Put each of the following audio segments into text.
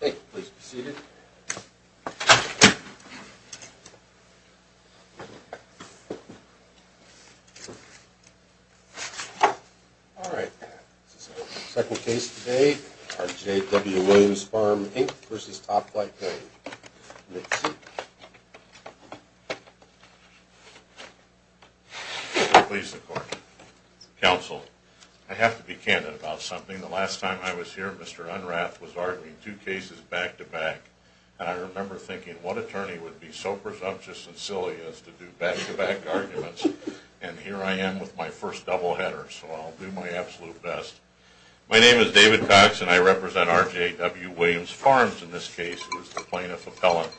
Thank you. Please be seated. All right. This is our second case today. RJW Williams Farms, Inc. v. Topflight Grain. You may be seated. Please be seated. My name is David Cox, and I represent RJW Williams Farms, in this case, who is the plaintiff appellant.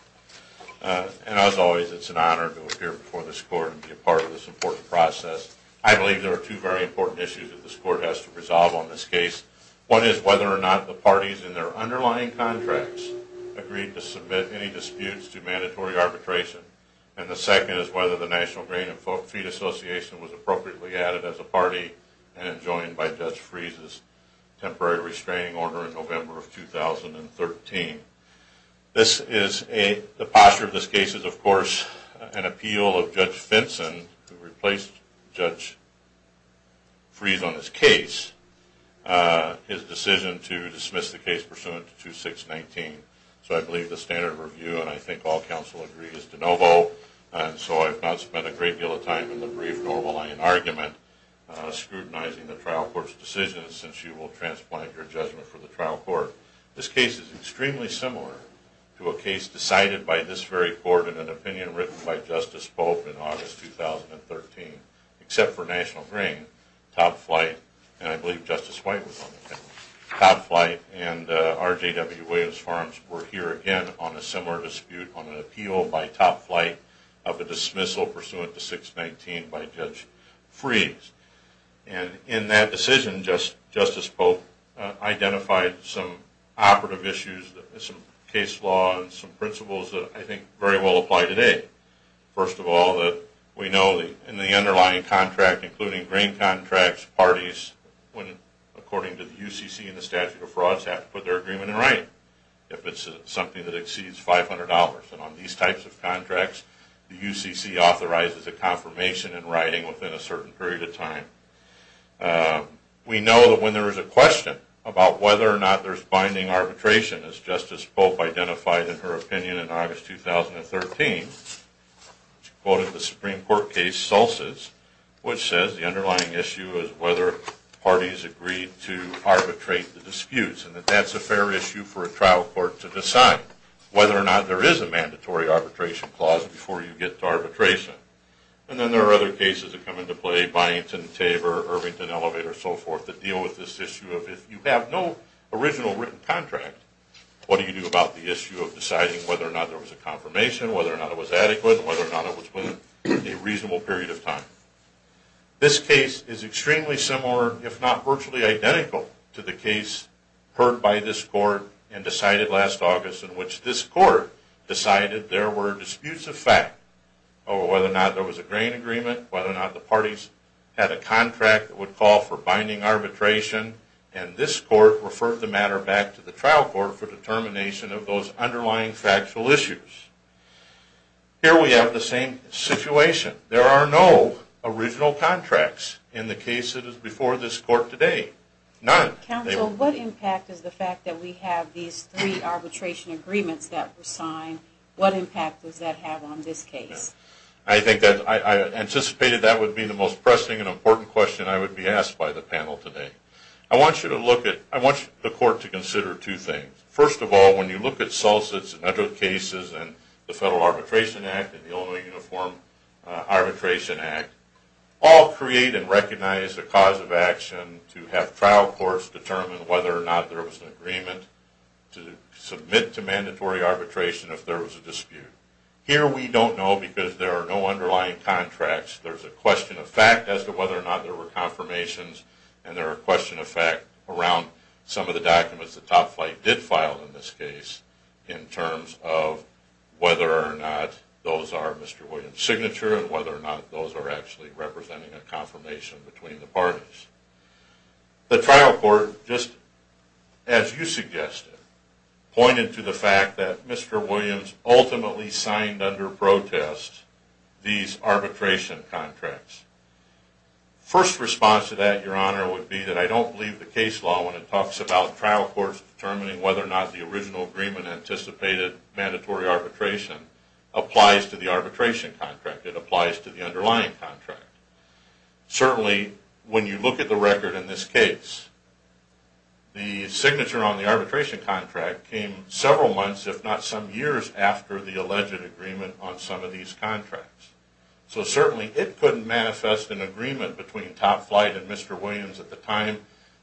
And, as always, it's an honor to appear before this court and be a part of this important process. I believe there are two very important issues that this court has to resolve on this case. One is whether or not the parties in their underlying contracts agreed to submit any disputes to mandatory arbitration. And the second is whether the National Grain and Feed Association was appropriately added as a party and joined by Judge Freese's temporary restraining order in November of 2013. The posture of this case is, of course, an appeal of Judge Finson, who replaced Judge Freese on this case. His decision to dismiss the case pursuant to 2619. So I believe the standard of review, and I think all counsel agree, is de novo. And so I've not spent a great deal of time in the brief normal line argument scrutinizing the trial court's decision, since you will transplant your judgment for the trial court. This case is extremely similar to a case decided by this very court in an opinion written by Justice Pope in August 2013, except for National Grain, Top Flight, and I believe Justice White was on the case. Top Flight and R.J.W. Williams Farms were here again on a similar dispute, on an appeal by Top Flight of a dismissal pursuant to 619 by Judge Freese. And in that decision, Justice Pope identified some operative issues, some case law, and some principles that I think very well apply today. First of all, we know in the underlying contract, including grain contracts, parties, according to the UCC and the statute of frauds, have to put their agreement in writing if it's something that exceeds $500. And on these types of contracts, the UCC authorizes a confirmation in writing within a certain period of time. We know that when there is a question about whether or not there's binding arbitration, as Justice Pope identified in her opinion in August 2013, she quoted the Supreme Court case Solstice, which says the underlying issue is whether parties agree to arbitrate the disputes, and that that's a fair issue for a trial court to decide whether or not there is a mandatory arbitration clause before you get to arbitration. And then there are other cases that come into play, Byington, Tabor, Irvington, Elevate, or so forth, that deal with this issue of if you have no original written contract, what do you do about the issue of deciding whether or not there was a confirmation, whether or not it was adequate, whether or not it was within a reasonable period of time. This case is extremely similar, if not virtually identical, to the case heard by this court and decided last August, in which this court decided there were disputes of fact over whether or not there was a grain agreement, whether or not the parties had a contract that would call for binding arbitration, and this court referred the matter back to the trial court for determination of those underlying factual issues. Here we have the same situation. There are no original contracts in the case that is before this court today. None. Counsel, what impact is the fact that we have these three arbitration agreements that were signed, what impact does that have on this case? I anticipated that would be the most pressing and important question I would be asked by the panel today. I want you to look at, I want the court to consider two things. First of all, when you look at Solstice and other cases and the Federal Arbitration Act and the Illinois Uniform Arbitration Act, all create and recognize a cause of action to have trial courts determine whether or not there was an agreement to submit to mandatory arbitration if there was a dispute. Here we don't know because there are no underlying contracts. There's a question of fact as to whether or not there were confirmations, and there are questions of fact around some of the documents that Top Flight did file in this case in terms of whether or not those are Mr. Williams' signature and whether or not those are actually representing a confirmation between the parties. The trial court, just as you suggested, pointed to the fact that Mr. Williams ultimately signed under protest these arbitration contracts. First response to that, Your Honor, would be that I don't believe the case law when it talks about trial courts determining whether or not the original agreement anticipated mandatory arbitration applies to the arbitration contract. It applies to the underlying contract. Certainly when you look at the record in this case, the signature on the arbitration contract came several months, if not some years, after the alleged agreement on some of these contracts. So certainly it couldn't manifest an agreement between Top Flight and Mr. Williams at the time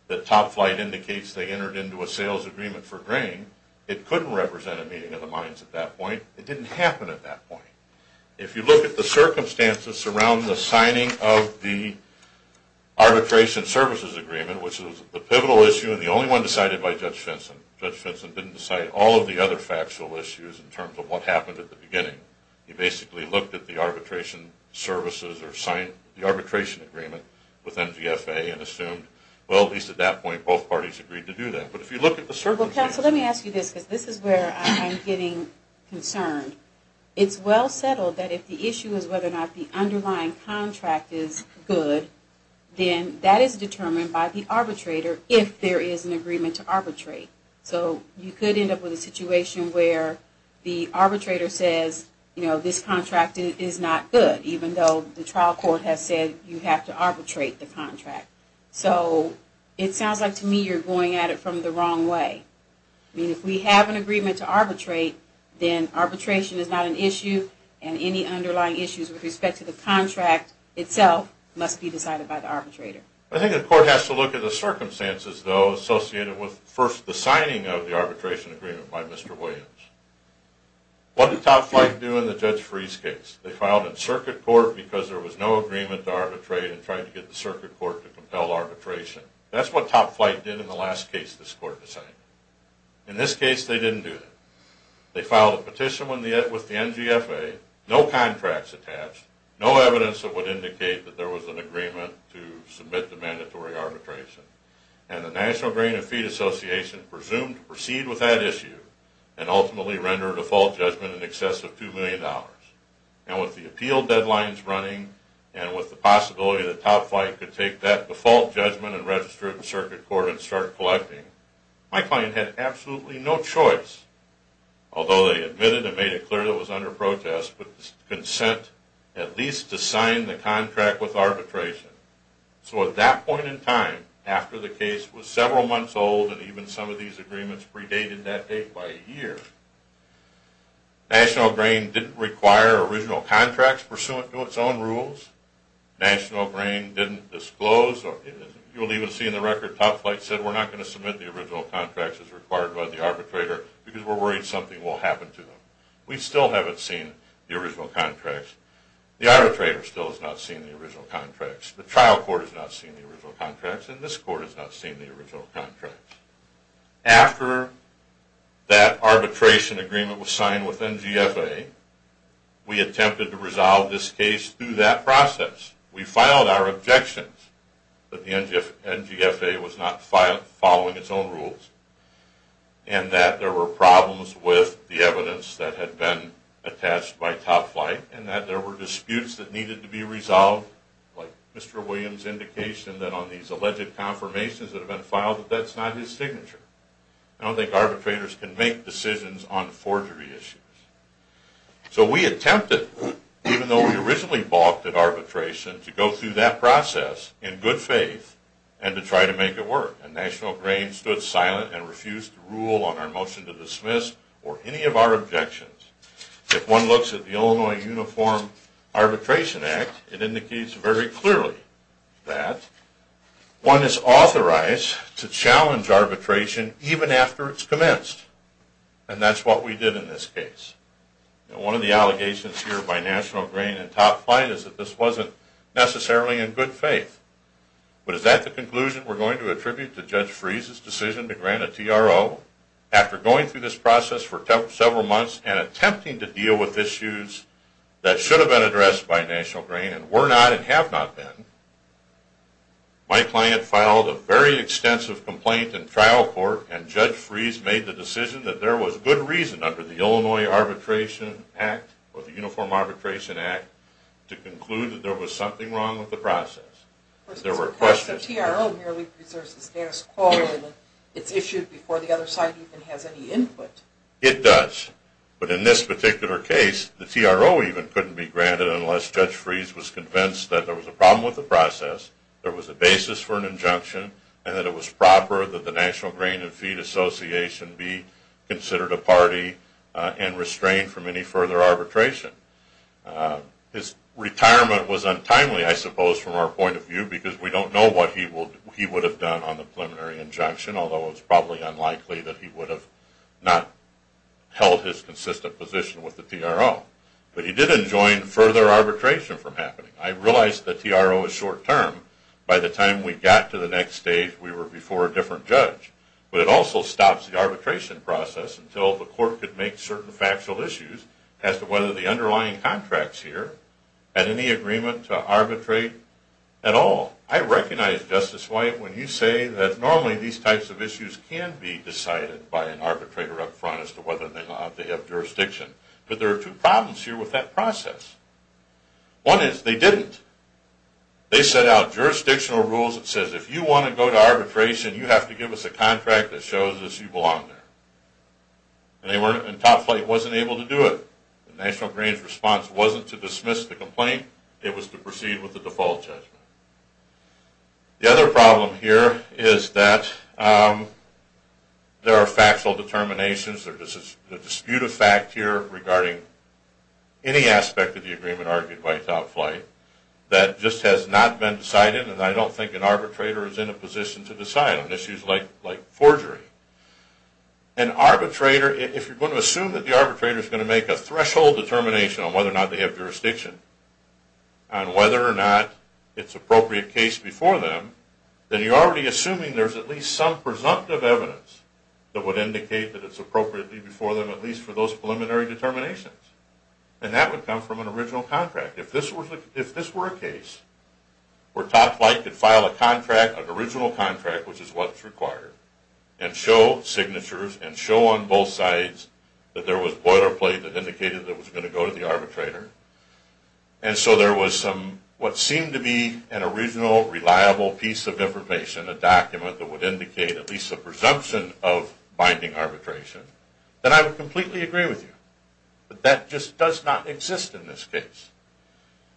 that Top Flight indicates they entered into a sales agreement for grain. It couldn't represent a meeting of the minds at that point. It didn't happen at that point. If you look at the circumstances around the signing of the arbitration services agreement, which is the pivotal issue and the only one decided by Judge Fenson, Judge Fenson didn't decide all of the other factual issues in terms of what happened at the beginning. He basically looked at the arbitration services or signed the arbitration agreement with MGFA and assumed, well, at least at that point both parties agreed to do that. But if you look at the circumstances... Well, counsel, let me ask you this because this is where I'm getting concerned. It's well settled that if the issue is whether or not the underlying contract is good, then that is determined by the arbitrator if there is an agreement to arbitrate. So you could end up with a situation where the arbitrator says, you know, this contract is not good, even though the trial court has said you have to arbitrate the contract. So it sounds like to me you're going at it from the wrong way. I mean, if we have an agreement to arbitrate, then arbitration is not an issue and any underlying issues with respect to the contract itself must be decided by the arbitrator. I think the court has to look at the circumstances, though, associated with first the signing of the arbitration agreement by Mr. Williams. What did Top Flight do in the Judge Freeze case? They filed in circuit court because there was no agreement to arbitrate and tried to get the circuit court to compel arbitration. That's what Top Flight did in the last case this court decided. In this case, they didn't do that. They filed a petition with the NGFA, no contracts attached, no evidence that would indicate that there was an agreement to submit to mandatory arbitration, and the National Grain and Feed Association presumed to proceed with that issue and ultimately render a default judgment in excess of $2 million. And with the appeal deadlines running and with the possibility that Top Flight could take that default judgment and register it in circuit court and start collecting, my client had absolutely no choice, although they admitted and made it clear that it was under protest, but consent at least to sign the contract with arbitration. So at that point in time, after the case was several months old and even some of these agreements predated that date by a year, National Grain didn't require original contracts pursuant to its own rules. National Grain didn't disclose, you'll even see in the record, Top Flight said we're not going to submit the original contracts as required by the arbitrator because we're worried something will happen to them. We still haven't seen the original contracts. The arbitrator still has not seen the original contracts. The trial court has not seen the original contracts, and this court has not seen the original contracts. After that arbitration agreement was signed with NGFA, we attempted to resolve this case through that process. We filed our objections that the NGFA was not following its own rules and that there were problems with the evidence that had been attached by Top Flight and that there were disputes that needed to be resolved, like Mr. Williams' indication that on these alleged confirmations that have been filed, that that's not his signature. I don't think arbitrators can make decisions on forgery issues. So we attempted, even though we originally balked at arbitration, to go through that process in good faith and to try to make it work. And National Grain stood silent and refused to rule on our motion to dismiss or any of our objections. If one looks at the Illinois Uniform Arbitration Act, it indicates very clearly that one is authorized to challenge arbitration even after it's commenced. And that's what we did in this case. One of the allegations here by National Grain and Top Flight is that this wasn't necessarily in good faith. But is that the conclusion we're going to attribute to Judge Freese's decision to grant a TRO after going through this process for several months and attempting to deal with issues that should have been addressed by National Grain and were not and have not been, my client filed a very extensive complaint in trial court and Judge Freese made the decision that there was good reason under the Illinois Arbitration Act or the Uniform Arbitration Act to conclude that there was something wrong with the process. There were questions... But the TRO merely preserves the status quo and it's issued before the other side even has any input. It does. But in this particular case, the TRO even couldn't be granted unless Judge Freese was convinced that there was a problem with the process, there was a basis for an injunction, and that it was proper that the National Grain and Feed Association be considered a party and restrained from any further arbitration. His retirement was untimely, I suppose, from our point of view because we don't know what he would have done on the preliminary injunction, although it's probably unlikely that he would have not held his consistent position with the TRO. But he didn't join further arbitration from happening. I realize the TRO is short term. By the time we got to the next stage, we were before a different judge. But it also stops the arbitration process until the court could make certain factual issues as to whether the underlying contracts here had any agreement to arbitrate at all. Now, I recognize, Justice White, when you say that normally these types of issues can be decided by an arbitrator up front as to whether or not they have jurisdiction. But there are two problems here with that process. One is they didn't. They set out jurisdictional rules that says if you want to go to arbitration, you have to give us a contract that shows that you belong there. And Top Flight wasn't able to do it. The National Grain's response wasn't to dismiss the complaint. It was to proceed with the default judgment. The other problem here is that there are factual determinations. There's a dispute of fact here regarding any aspect of the agreement argued by Top Flight that just has not been decided. And I don't think an arbitrator is in a position to decide on issues like forgery. An arbitrator, if you're going to assume that the arbitrator is going to make a threshold determination on whether or not they have jurisdiction, on whether or not it's appropriate case before them, then you're already assuming there's at least some presumptive evidence that would indicate that it's appropriately before them at least for those preliminary determinations. And that would come from an original contract. If this were a case where Top Flight could file a contract, an original contract, which is what's required, and show signatures and show on both sides that there was boilerplate that indicated that it was going to go to the arbitrator, and so there was what seemed to be an original, reliable piece of information, a document that would indicate at least a presumption of binding arbitration, then I would completely agree with you. But that just does not exist in this case.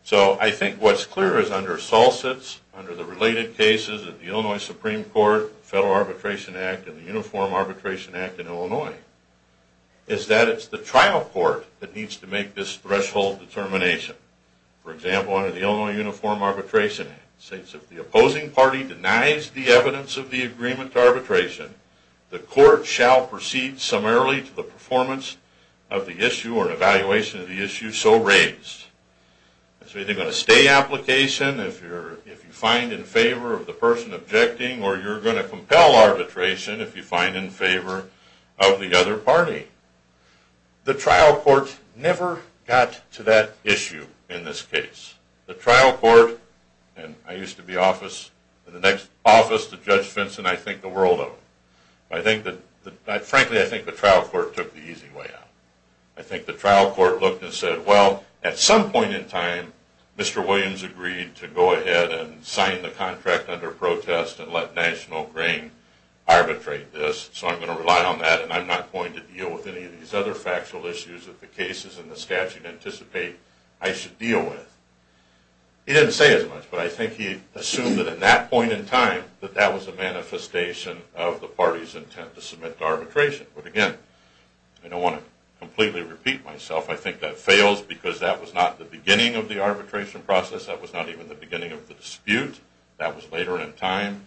So I think what's clear is under Salsitz, under the related cases of the Illinois Supreme Court, Federal Arbitration Act, and the Uniform Arbitration Act in Illinois, is that it's the trial court that needs to make this threshold determination. For example, under the Illinois Uniform Arbitration Act, it states if the opposing party denies the evidence of the agreement to arbitration, the court shall proceed summarily to the performance of the issue or evaluation of the issue so raised. It's either going to stay application if you find in favor of the person objecting, or you're going to compel arbitration if you find in favor of the other party. The trial court never got to that issue in this case. The trial court, and I used to be in the next office to Judge Vinson, I think the world of him. Frankly, I think the trial court took the easy way out. I think the trial court looked and said, well, at some point in time, Mr. Williams agreed to go ahead and sign the contract under protest and let National Grain arbitrate this, so I'm going to rely on that and I'm not going to deal with any of these other factual issues that the cases in the statute anticipate I should deal with. He didn't say as much, but I think he assumed that at that point in time that that was a manifestation of the party's intent to submit to arbitration. But again, I don't want to completely repeat myself. I think that fails because that was not the beginning of the arbitration process. That was not even the beginning of the dispute. That was later in time,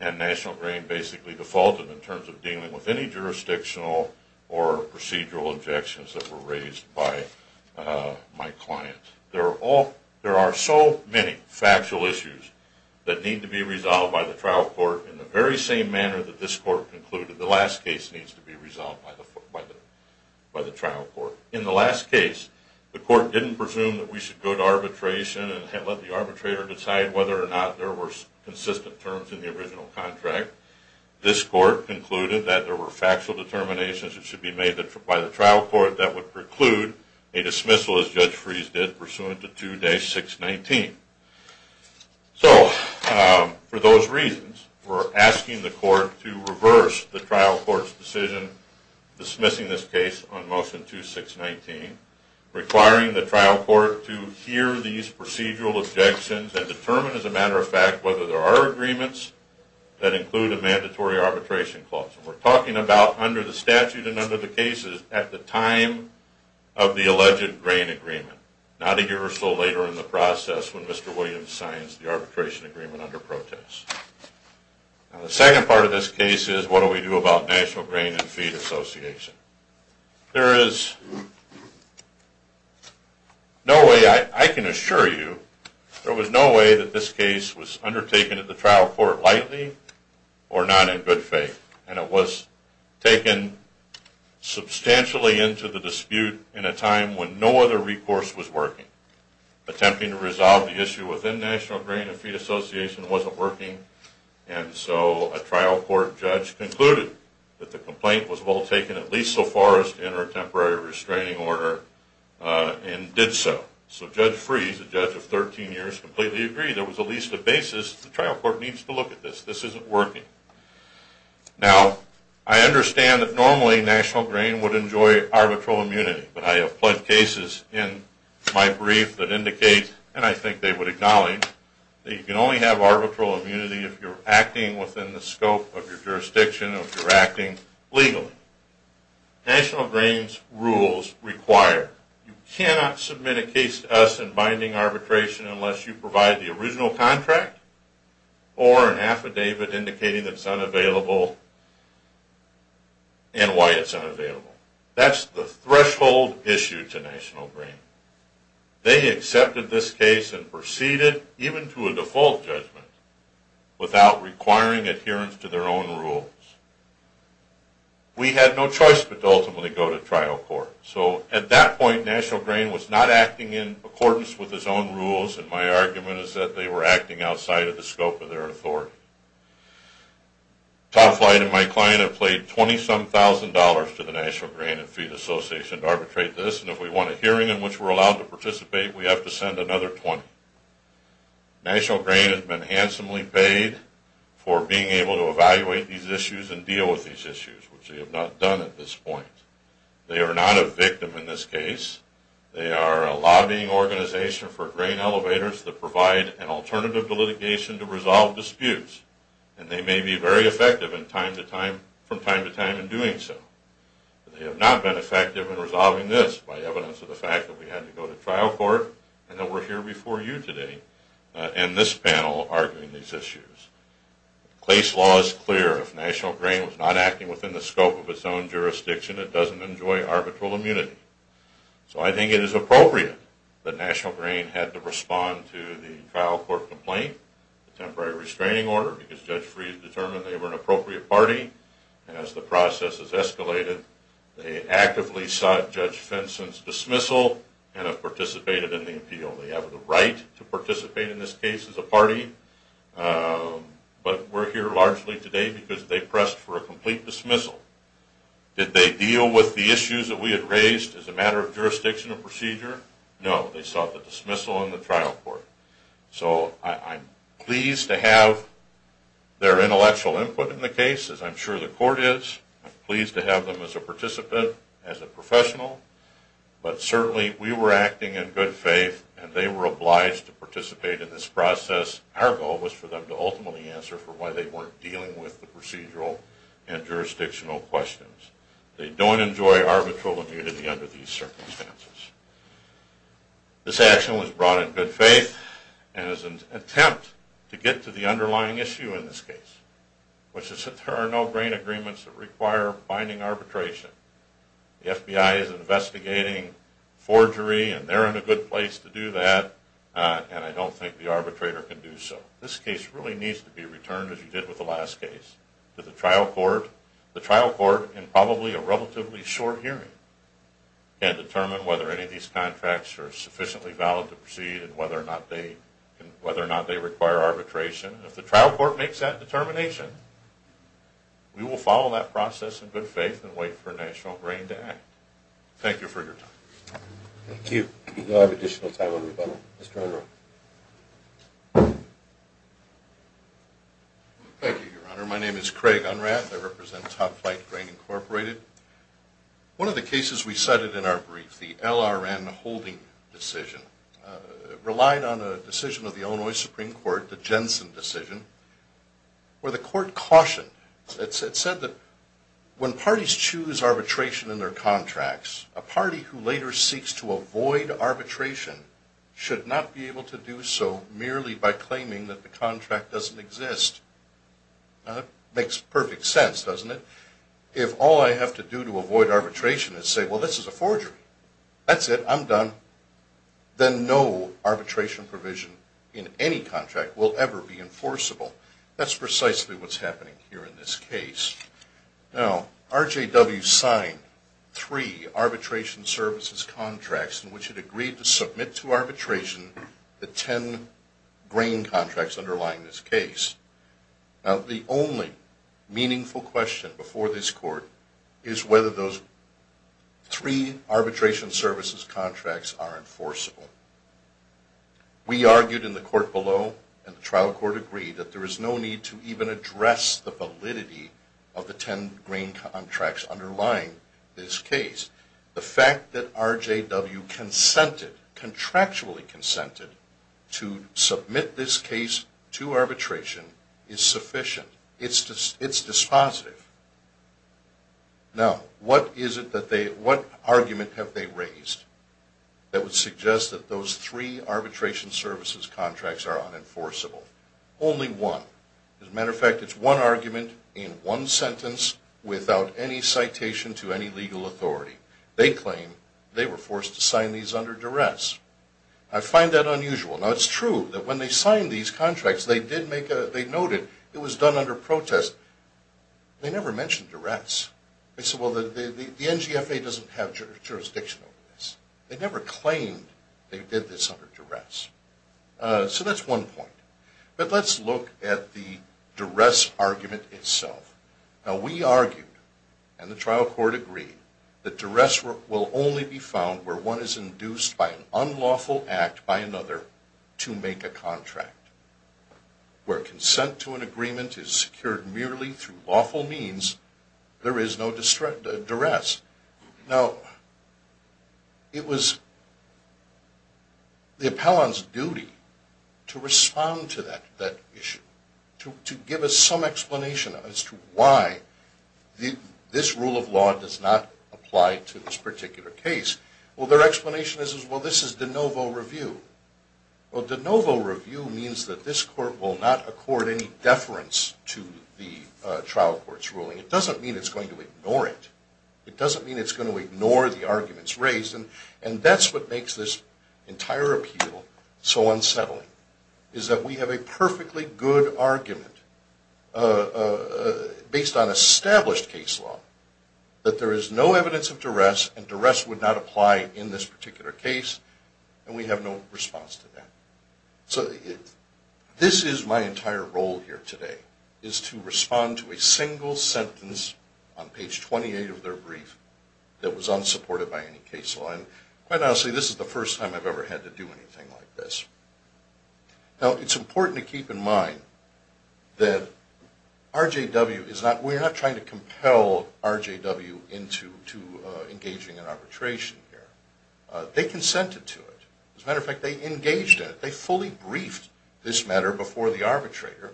and National Grain basically defaulted in terms of dealing with any jurisdictional or procedural objections that were raised by my client. There are so many factual issues that need to be resolved by the trial court in the very same manner that this court concluded the last case needs to be resolved by the trial court. In the last case, the court didn't presume that we should go to arbitration and let the arbitrator decide whether or not there were consistent terms in the original contract. This court concluded that there were factual determinations that should be made by the trial court that would preclude a dismissal, as Judge Freese did, pursuant to 2-619. So for those reasons, we're asking the court to reverse the trial court's decision dismissing this case on motion 2-619, requiring the trial court to hear these procedural objections and determine, as a matter of fact, whether there are agreements that include a mandatory arbitration clause. And we're talking about under the statute and under the cases at the time of the alleged grain agreement, not a year or so later in the process when Mr. Williams signs the arbitration agreement under protest. The second part of this case is what do we do about National Grain and Feed Association. There is no way, I can assure you, there was no way that this case was undertaken at the trial court lightly or not in good faith. And it was taken substantially into the dispute in a time when no other recourse was working. Attempting to resolve the issue within National Grain and Feed Association wasn't working, and so a trial court judge concluded that the complaint was well taken at least so far as to enter a temporary restraining order and did so. So Judge Freese, a judge of 13 years, completely agreed there was at least a basis. The trial court needs to look at this. This isn't working. Now, I understand that normally National Grain would enjoy arbitral immunity, but I have pled cases in my brief that indicate, and I think they would acknowledge, that you can only have arbitral immunity if you're acting within the scope of your jurisdiction, if you're acting legally. National Grain's rules require you cannot submit a case to us in binding arbitration unless you provide the original contract or an affidavit indicating that it's unavailable and why it's unavailable. That's the threshold issue to National Grain. They accepted this case and proceeded, even to a default judgment, without requiring adherence to their own rules. We had no choice but to ultimately go to trial court. So at that point, National Grain was not acting in accordance with its own rules, and my argument is that they were acting outside of the scope of their authority. Todd Flight and my client have paid $20-some-thousand to the National Grain and Feed Association to arbitrate this, and if we want a hearing in which we're allowed to participate, we have to send another $20. National Grain has been handsomely paid for being able to evaluate these issues and deal with these issues, which they have not done at this point. They are not a victim in this case. They are a lobbying organization for grain elevators that provide an alternative to litigation to resolve disputes, and they may be very effective from time to time in doing so. They have not been effective in resolving this by evidence of the fact that we had to go to trial court and that we're here before you today in this panel arguing these issues. The case law is clear. If National Grain was not acting within the scope of its own jurisdiction, it doesn't enjoy arbitral immunity. So I think it is appropriate that National Grain had to respond to the trial court complaint, the temporary restraining order, because Judge Freed determined they were an appropriate party, and as the process has been, they have participated in the appeal. They have the right to participate in this case as a party, but we're here largely today because they pressed for a complete dismissal. Did they deal with the issues that we had raised as a matter of jurisdiction and procedure? No. They sought the dismissal in the trial court. So I'm pleased to have their intellectual input in the case, as I'm sure the court is. I'm pleased to have them as a participant, as a professional. But certainly we were acting in good faith, and they were obliged to participate in this process. Our goal was for them to ultimately answer for why they weren't dealing with the procedural and jurisdictional questions. They don't enjoy arbitral immunity under these circumstances. This action was brought in good faith and is an attempt to get to the underlying issue in this case, which is that there are no grain agreements that require binding arbitration. The FBI is investigating forgery, and they're in a good place to do that, and I don't think the arbitrator can do so. This case really needs to be returned, as you did with the last case, to the trial court. The trial court, in probably a relatively short hearing, can determine whether any of these contracts are sufficiently valid to proceed and whether or not they require arbitration. If the trial court makes that determination, we will follow that process in good faith and wait for National Grain to act. Thank you for your time. Thank you. We now have additional time on the phone. Mr. Unrath. Thank you, Your Honor. My name is Craig Unrath. I represent Top Flight Grain, Incorporated. One of the cases we cited in our brief, the LRN holding decision, relied on a decision of the Illinois Supreme Court, the Jensen decision, where the court cautioned. It said that when parties choose arbitration in their contracts, a party who later seeks to avoid arbitration should not be able to do so merely by claiming that the contract doesn't exist. That makes perfect sense, doesn't it? If all I have to do to avoid arbitration is say, well, this is a forgery, that's it, I'm done, then no arbitration provision in any contract will ever be enforceable. That's precisely what's happening here in this case. Now, RJW signed three arbitration services contracts in which it agreed to submit to arbitration the ten grain contracts underlying this case. Now, the only meaningful question before this court is whether those three arbitration services contracts are enforceable. We argued in the court below, and the trial court agreed, that there is no need to even address the validity of the ten grain contracts underlying this case. The fact that RJW consented, contractually consented, to submit this case to arbitration is sufficient. It's dispositive. Now, what argument have they raised that would suggest that those three arbitration services contracts are unenforceable? Only one. As a matter of fact, it's one argument in one sentence without any citation to any legal authority. They claim they were forced to sign these under duress. I find that unusual. Now, it's true that when they signed these contracts, they noted it was done under protest. They never mentioned duress. They said, well, the NGFA doesn't have jurisdiction over this. They never claimed they did this under duress. So that's one point. But let's look at the duress argument itself. Now, we argued, and the trial court agreed, that duress will only be found where one is induced by an unlawful act by another to make a contract. Where consent to an agreement is secured merely through lawful means, there is no duress. Now, it was the appellant's duty to respond to that issue, to give us some explanation as to why this rule of law does not apply to this particular case. Well, their explanation is, well, this is de novo review. Well, de novo review means that this court will not accord any deference to the trial court's ruling. It doesn't mean it's going to ignore it. It doesn't mean it's going to ignore the arguments raised. And that's what makes this entire appeal so unsettling, is that we have a perfectly good argument based on established case law that there is no evidence of duress, and duress would not apply in this particular case, and we have no response to that. So this is my entire role here today, is to respond to a single sentence on page 28 of their brief that was unsupported by any case law. And quite honestly, this is the first time I've ever had to do anything like this. Now, it's important to keep in mind that RJW is not, we're not trying to compel RJW into engaging in arbitration here. They consented to it. As a matter of fact, they engaged in it. They fully briefed this matter before the arbitrator.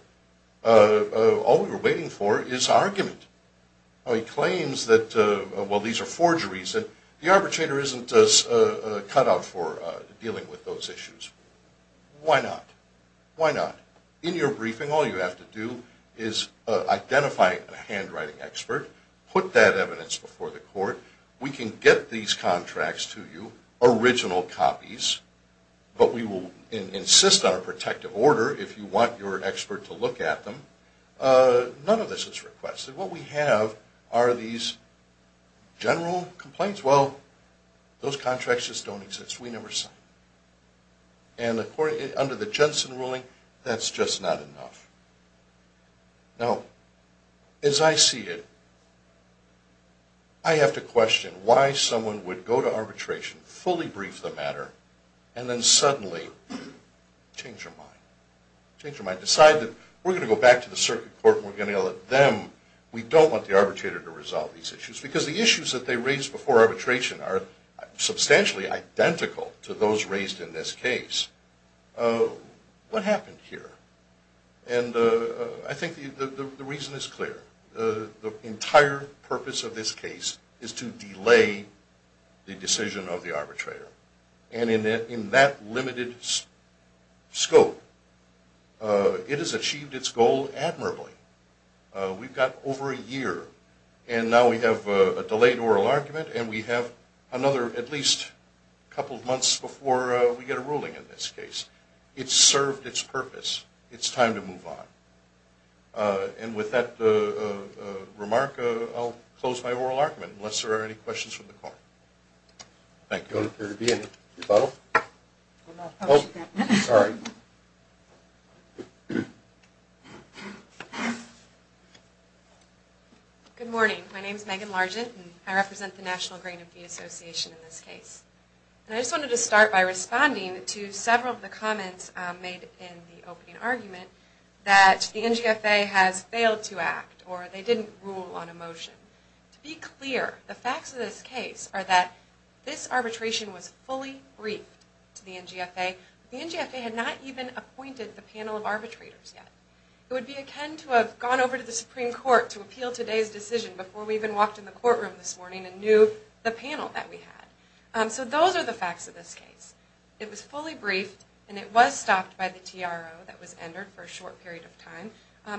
All we were waiting for is argument. He claims that, well, these are forgeries, and the arbitrator isn't cut out for dealing with those issues. Why not? Why not? In your briefing, all you have to do is identify a handwriting expert, put that evidence before the court. We can get these contracts to you, original copies, but we will insist on a protective order if you want your expert to look at them. None of this is requested. What we have are these general complaints. Well, those contracts just don't exist. We never sign. And under the Jensen ruling, that's just not enough. Now, as I see it, I have to question why someone would go to arbitration, fully brief the matter, and then suddenly change their mind, change their mind, decide that we're going to go back to the circuit court and we're going to let them, we don't want the arbitrator to resolve these issues because the issues that they raised before arbitration are substantially identical to those raised in this case. What happened here? And I think the reason is clear. The entire purpose of this case is to delay the decision of the arbitrator. And in that limited scope, it has achieved its goal admirably. We've got over a year, and now we have a delayed oral argument, and we have another at least a couple of months before we get a ruling in this case. It's served its purpose. It's time to move on. And with that remark, I'll close my oral argument, unless there are any questions from the court. Thank you. I don't appear to be in a rebuttal. Oh, sorry. Good morning. My name is Megan Largent, and I represent the National Grain and Feed Association in this case. And I just wanted to start by responding to several of the comments made in the opening argument that the NGFA has failed to act or they didn't rule on a motion. To be clear, the facts of this case are that this arbitration was fully briefed to the NGFA. The NGFA had not even appointed the panel of arbitrators yet. It would be akin to have gone over to the Supreme Court to appeal today's decision before we even walked in the courtroom this morning and knew the panel that we had. So those are the facts of this case. It was fully briefed, and it was stopped by the TRO that was entered for a short period of time.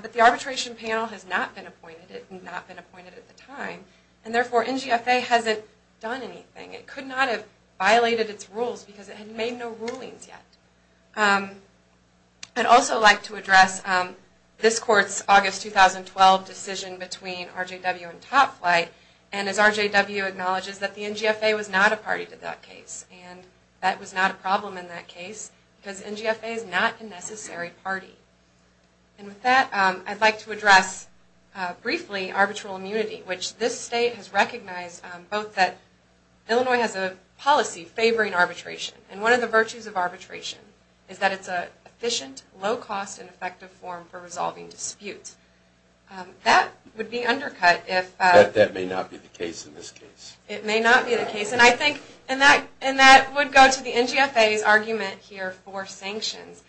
But the arbitration panel has not been appointed. It had not been appointed at the time. And therefore, NGFA hasn't done anything. It could not have violated its rules because it had made no rulings yet. I'd also like to address this court's August 2012 decision between RJW and Top Flight. And as RJW acknowledges, that the NGFA was not a party to that case. And that was not a problem in that case because NGFA is not a necessary party. And with that, I'd like to address briefly arbitral immunity, which this state has recognized both that Illinois has a policy favoring arbitration. And one of the virtues of arbitration is that it's an efficient, low-cost, and effective form for resolving disputes. That would be undercut if ---- But that may not be the case in this case. It may not be the case. And I think that would go to the NGFA's argument here for sanctions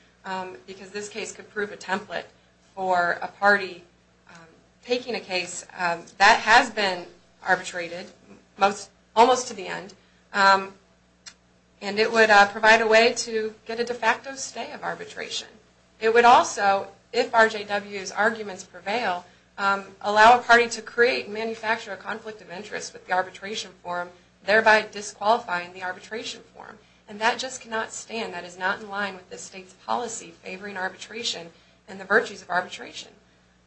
because this case could prove a template for a party taking a case that has been arbitrated almost to the end. And it would provide a way to get a de facto stay of arbitration. It would also, if RJW's arguments prevail, allow a party to create and manufacture a conflict of interest with the arbitration form, thereby disqualifying the arbitration form. And that just cannot stand. That is not in line with this state's policy favoring arbitration and the virtues of arbitration.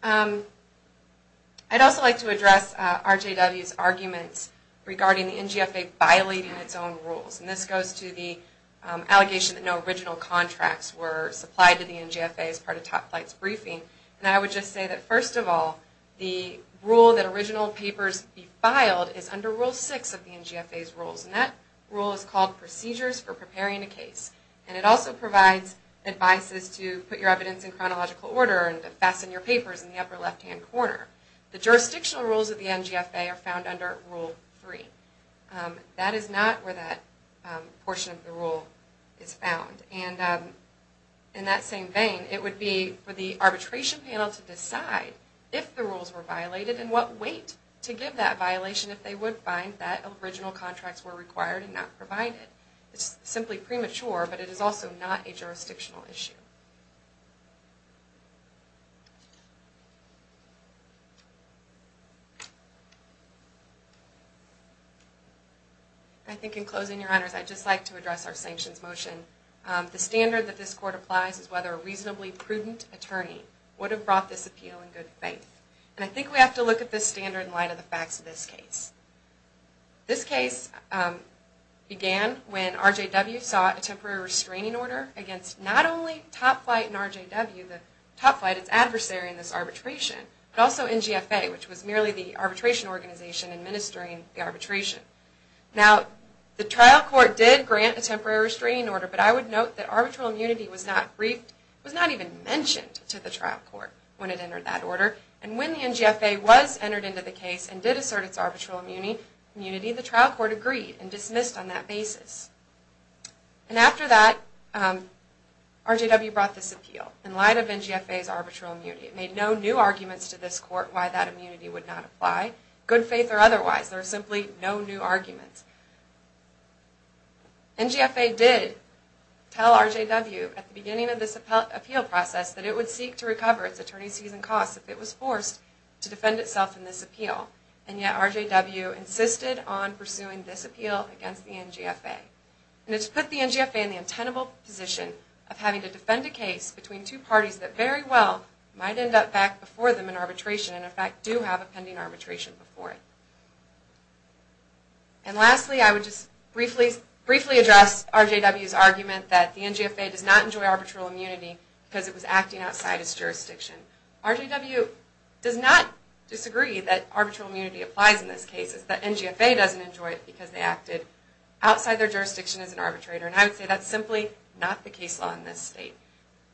I'd also like to address RJW's arguments regarding the NGFA violating its own rules. And this goes to the allegation that no original contracts were supplied to the NGFA as part of Top Flight's briefing. And I would just say that, first of all, the rule that original papers be filed is under Rule 6 of the NGFA's rules. And that rule is called Procedures for Preparing a Case. And it also provides advices to put your evidence in chronological order and to fasten your papers in the upper left-hand corner. The jurisdictional rules of the NGFA are found under Rule 3. That is not where that portion of the rule is found. And in that same vein, it would be for the arbitration panel to decide if the rules were violated and what weight to give that violation if they would find that original contracts were required and not provided. It's simply premature, but it is also not a jurisdictional issue. I think in closing, Your Honors, I'd just like to address our sanctions motion. The standard that this Court applies is whether a reasonably prudent attorney would have brought this appeal in good faith. And I think we have to look at this standard in light of the facts of this case. This case began when RJW sought a temporary restraining order against not only Top Flight and RJW, the Top Flight, its adversary in this arbitration, but also NGFA, which was merely the arbitration organization administering the arbitration. Now, the trial court did grant a temporary restraining order, but I would note that arbitral immunity was not even mentioned to the trial court when it entered that order. And when the NGFA was entered into the case and did assert its arbitral immunity, the trial court agreed and dismissed on that basis. And after that, RJW brought this appeal in light of NGFA's arbitral immunity. It made no new arguments to this Court why that immunity would not apply good faith or otherwise. There are simply no new arguments. NGFA did tell RJW at the beginning of this appeal process that it would seek to recover its attorney's season costs if it was forced to defend itself in this appeal, and yet RJW insisted on pursuing this appeal against the NGFA. And it's put the NGFA in the untenable position of having to defend a case between two parties that very well might end up back before them in arbitration and, in fact, do have a pending arbitration before it. And lastly, I would just briefly address RJW's argument that the NGFA does not enjoy arbitral immunity because it was acting outside its jurisdiction. RJW does not disagree that arbitral immunity applies in this case. It's that NGFA doesn't enjoy it because they acted outside their jurisdiction as an arbitrator. And I would say that's simply not the case law in this state.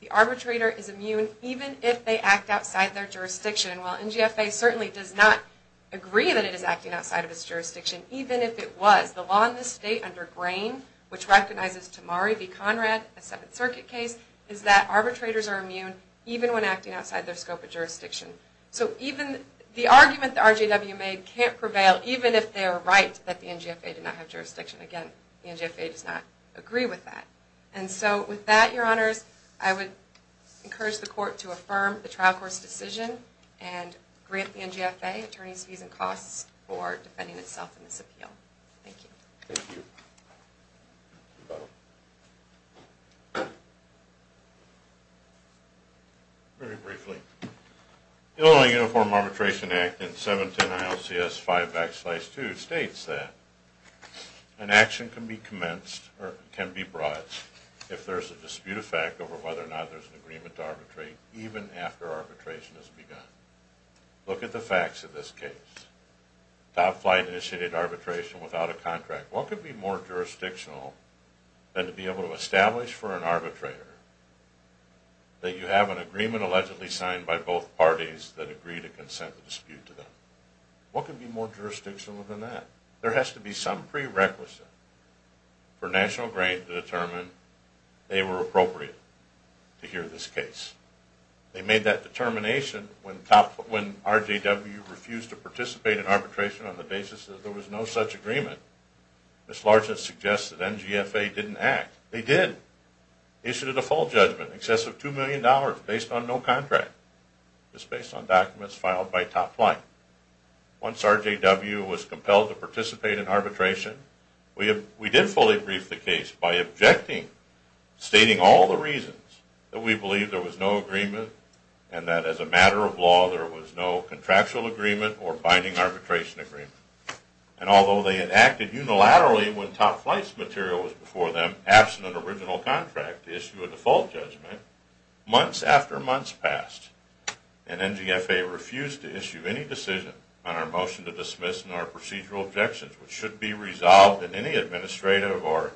The arbitrator is immune even if they act outside their jurisdiction, while NGFA certainly does not agree that it is acting outside of its jurisdiction, even if it was. The law in this state under Grain, which recognizes Tamari v. Conrad, a Seventh Circuit case, is that arbitrators are immune even when acting outside their scope of jurisdiction. So even the argument that RJW made can't prevail even if they are right that the NGFA did not have jurisdiction. Again, the NGFA does not agree with that. And so with that, Your Honors, I would encourage the court to affirm the trial court's decision and grant the NGFA attorneys' fees and costs for defending itself in this appeal. Thank you. Thank you. Very briefly, Illinois Uniform Arbitration Act in 710 ILCS 5 backslide 2 states that an action can be commenced or can be brought if there is a dispute of fact over whether or not there is an agreement to arbitrate even after arbitration has begun. Look at the facts of this case. Top flight initiated arbitration without a contract. What could be more jurisdictional than to be able to establish for an arbitrator that you have an agreement allegedly signed by both parties that agree to consent the dispute to them? What could be more jurisdictional than that? There has to be some prerequisite for National Grain to determine they were appropriate to hear this case. They made that determination when RJW refused to participate in arbitration on the basis that there was no such agreement. This largely suggests that NGFA didn't act. They did. Issued a default judgment, excessive $2 million based on no contract, just based on documents filed by top flight. Once RJW was compelled to participate in arbitration, we did fully brief the case by objecting, stating all the reasons that we believed there was no agreement and that as a matter of law there was no contractual agreement or binding arbitration agreement. Although they enacted unilaterally when top flight's material was before them, absent an original contract to issue a default judgment, months after months passed and NGFA refused to issue any decision on our motion to dismiss and our procedural objections, which should be resolved in any administrative or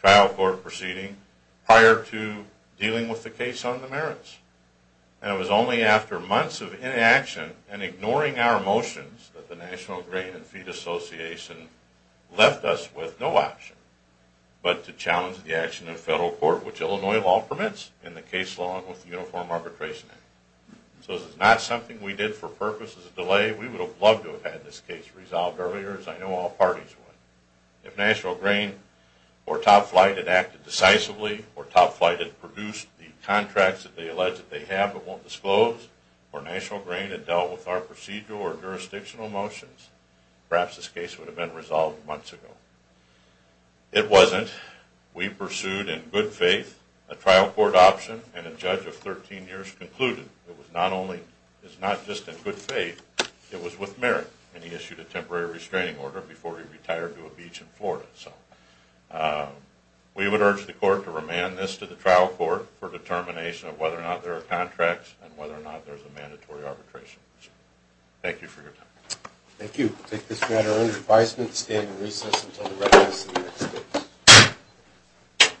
trial court proceeding prior to dealing with the case on the merits. And it was only after months of inaction and ignoring our motions that the National Grain and Feed Association left us with no option but to challenge the action of federal court, which Illinois law permits in the case law and with the Uniform Arbitration Act. So this is not something we did for purposes of delay. We would have loved to have had this case resolved earlier as I know all parties would. If National Grain or Top Flight had acted decisively or Top Flight had produced the contracts that they alleged they have but won't disclose, or National Grain had dealt with our procedural or jurisdictional motions, perhaps this case would have been resolved months ago. It wasn't. We pursued in good faith a trial court option and a judge of 13 years concluded it was not just in good faith, it was with merit and he issued a temporary restraining order before he went to a beach in Florida. So we would urge the court to remand this to the trial court for determination of whether or not there are contracts and whether or not there's a mandatory arbitration. Thank you for your time. Thank you. We'll take this matter under advisement, stand in recess, until the record is in the next case.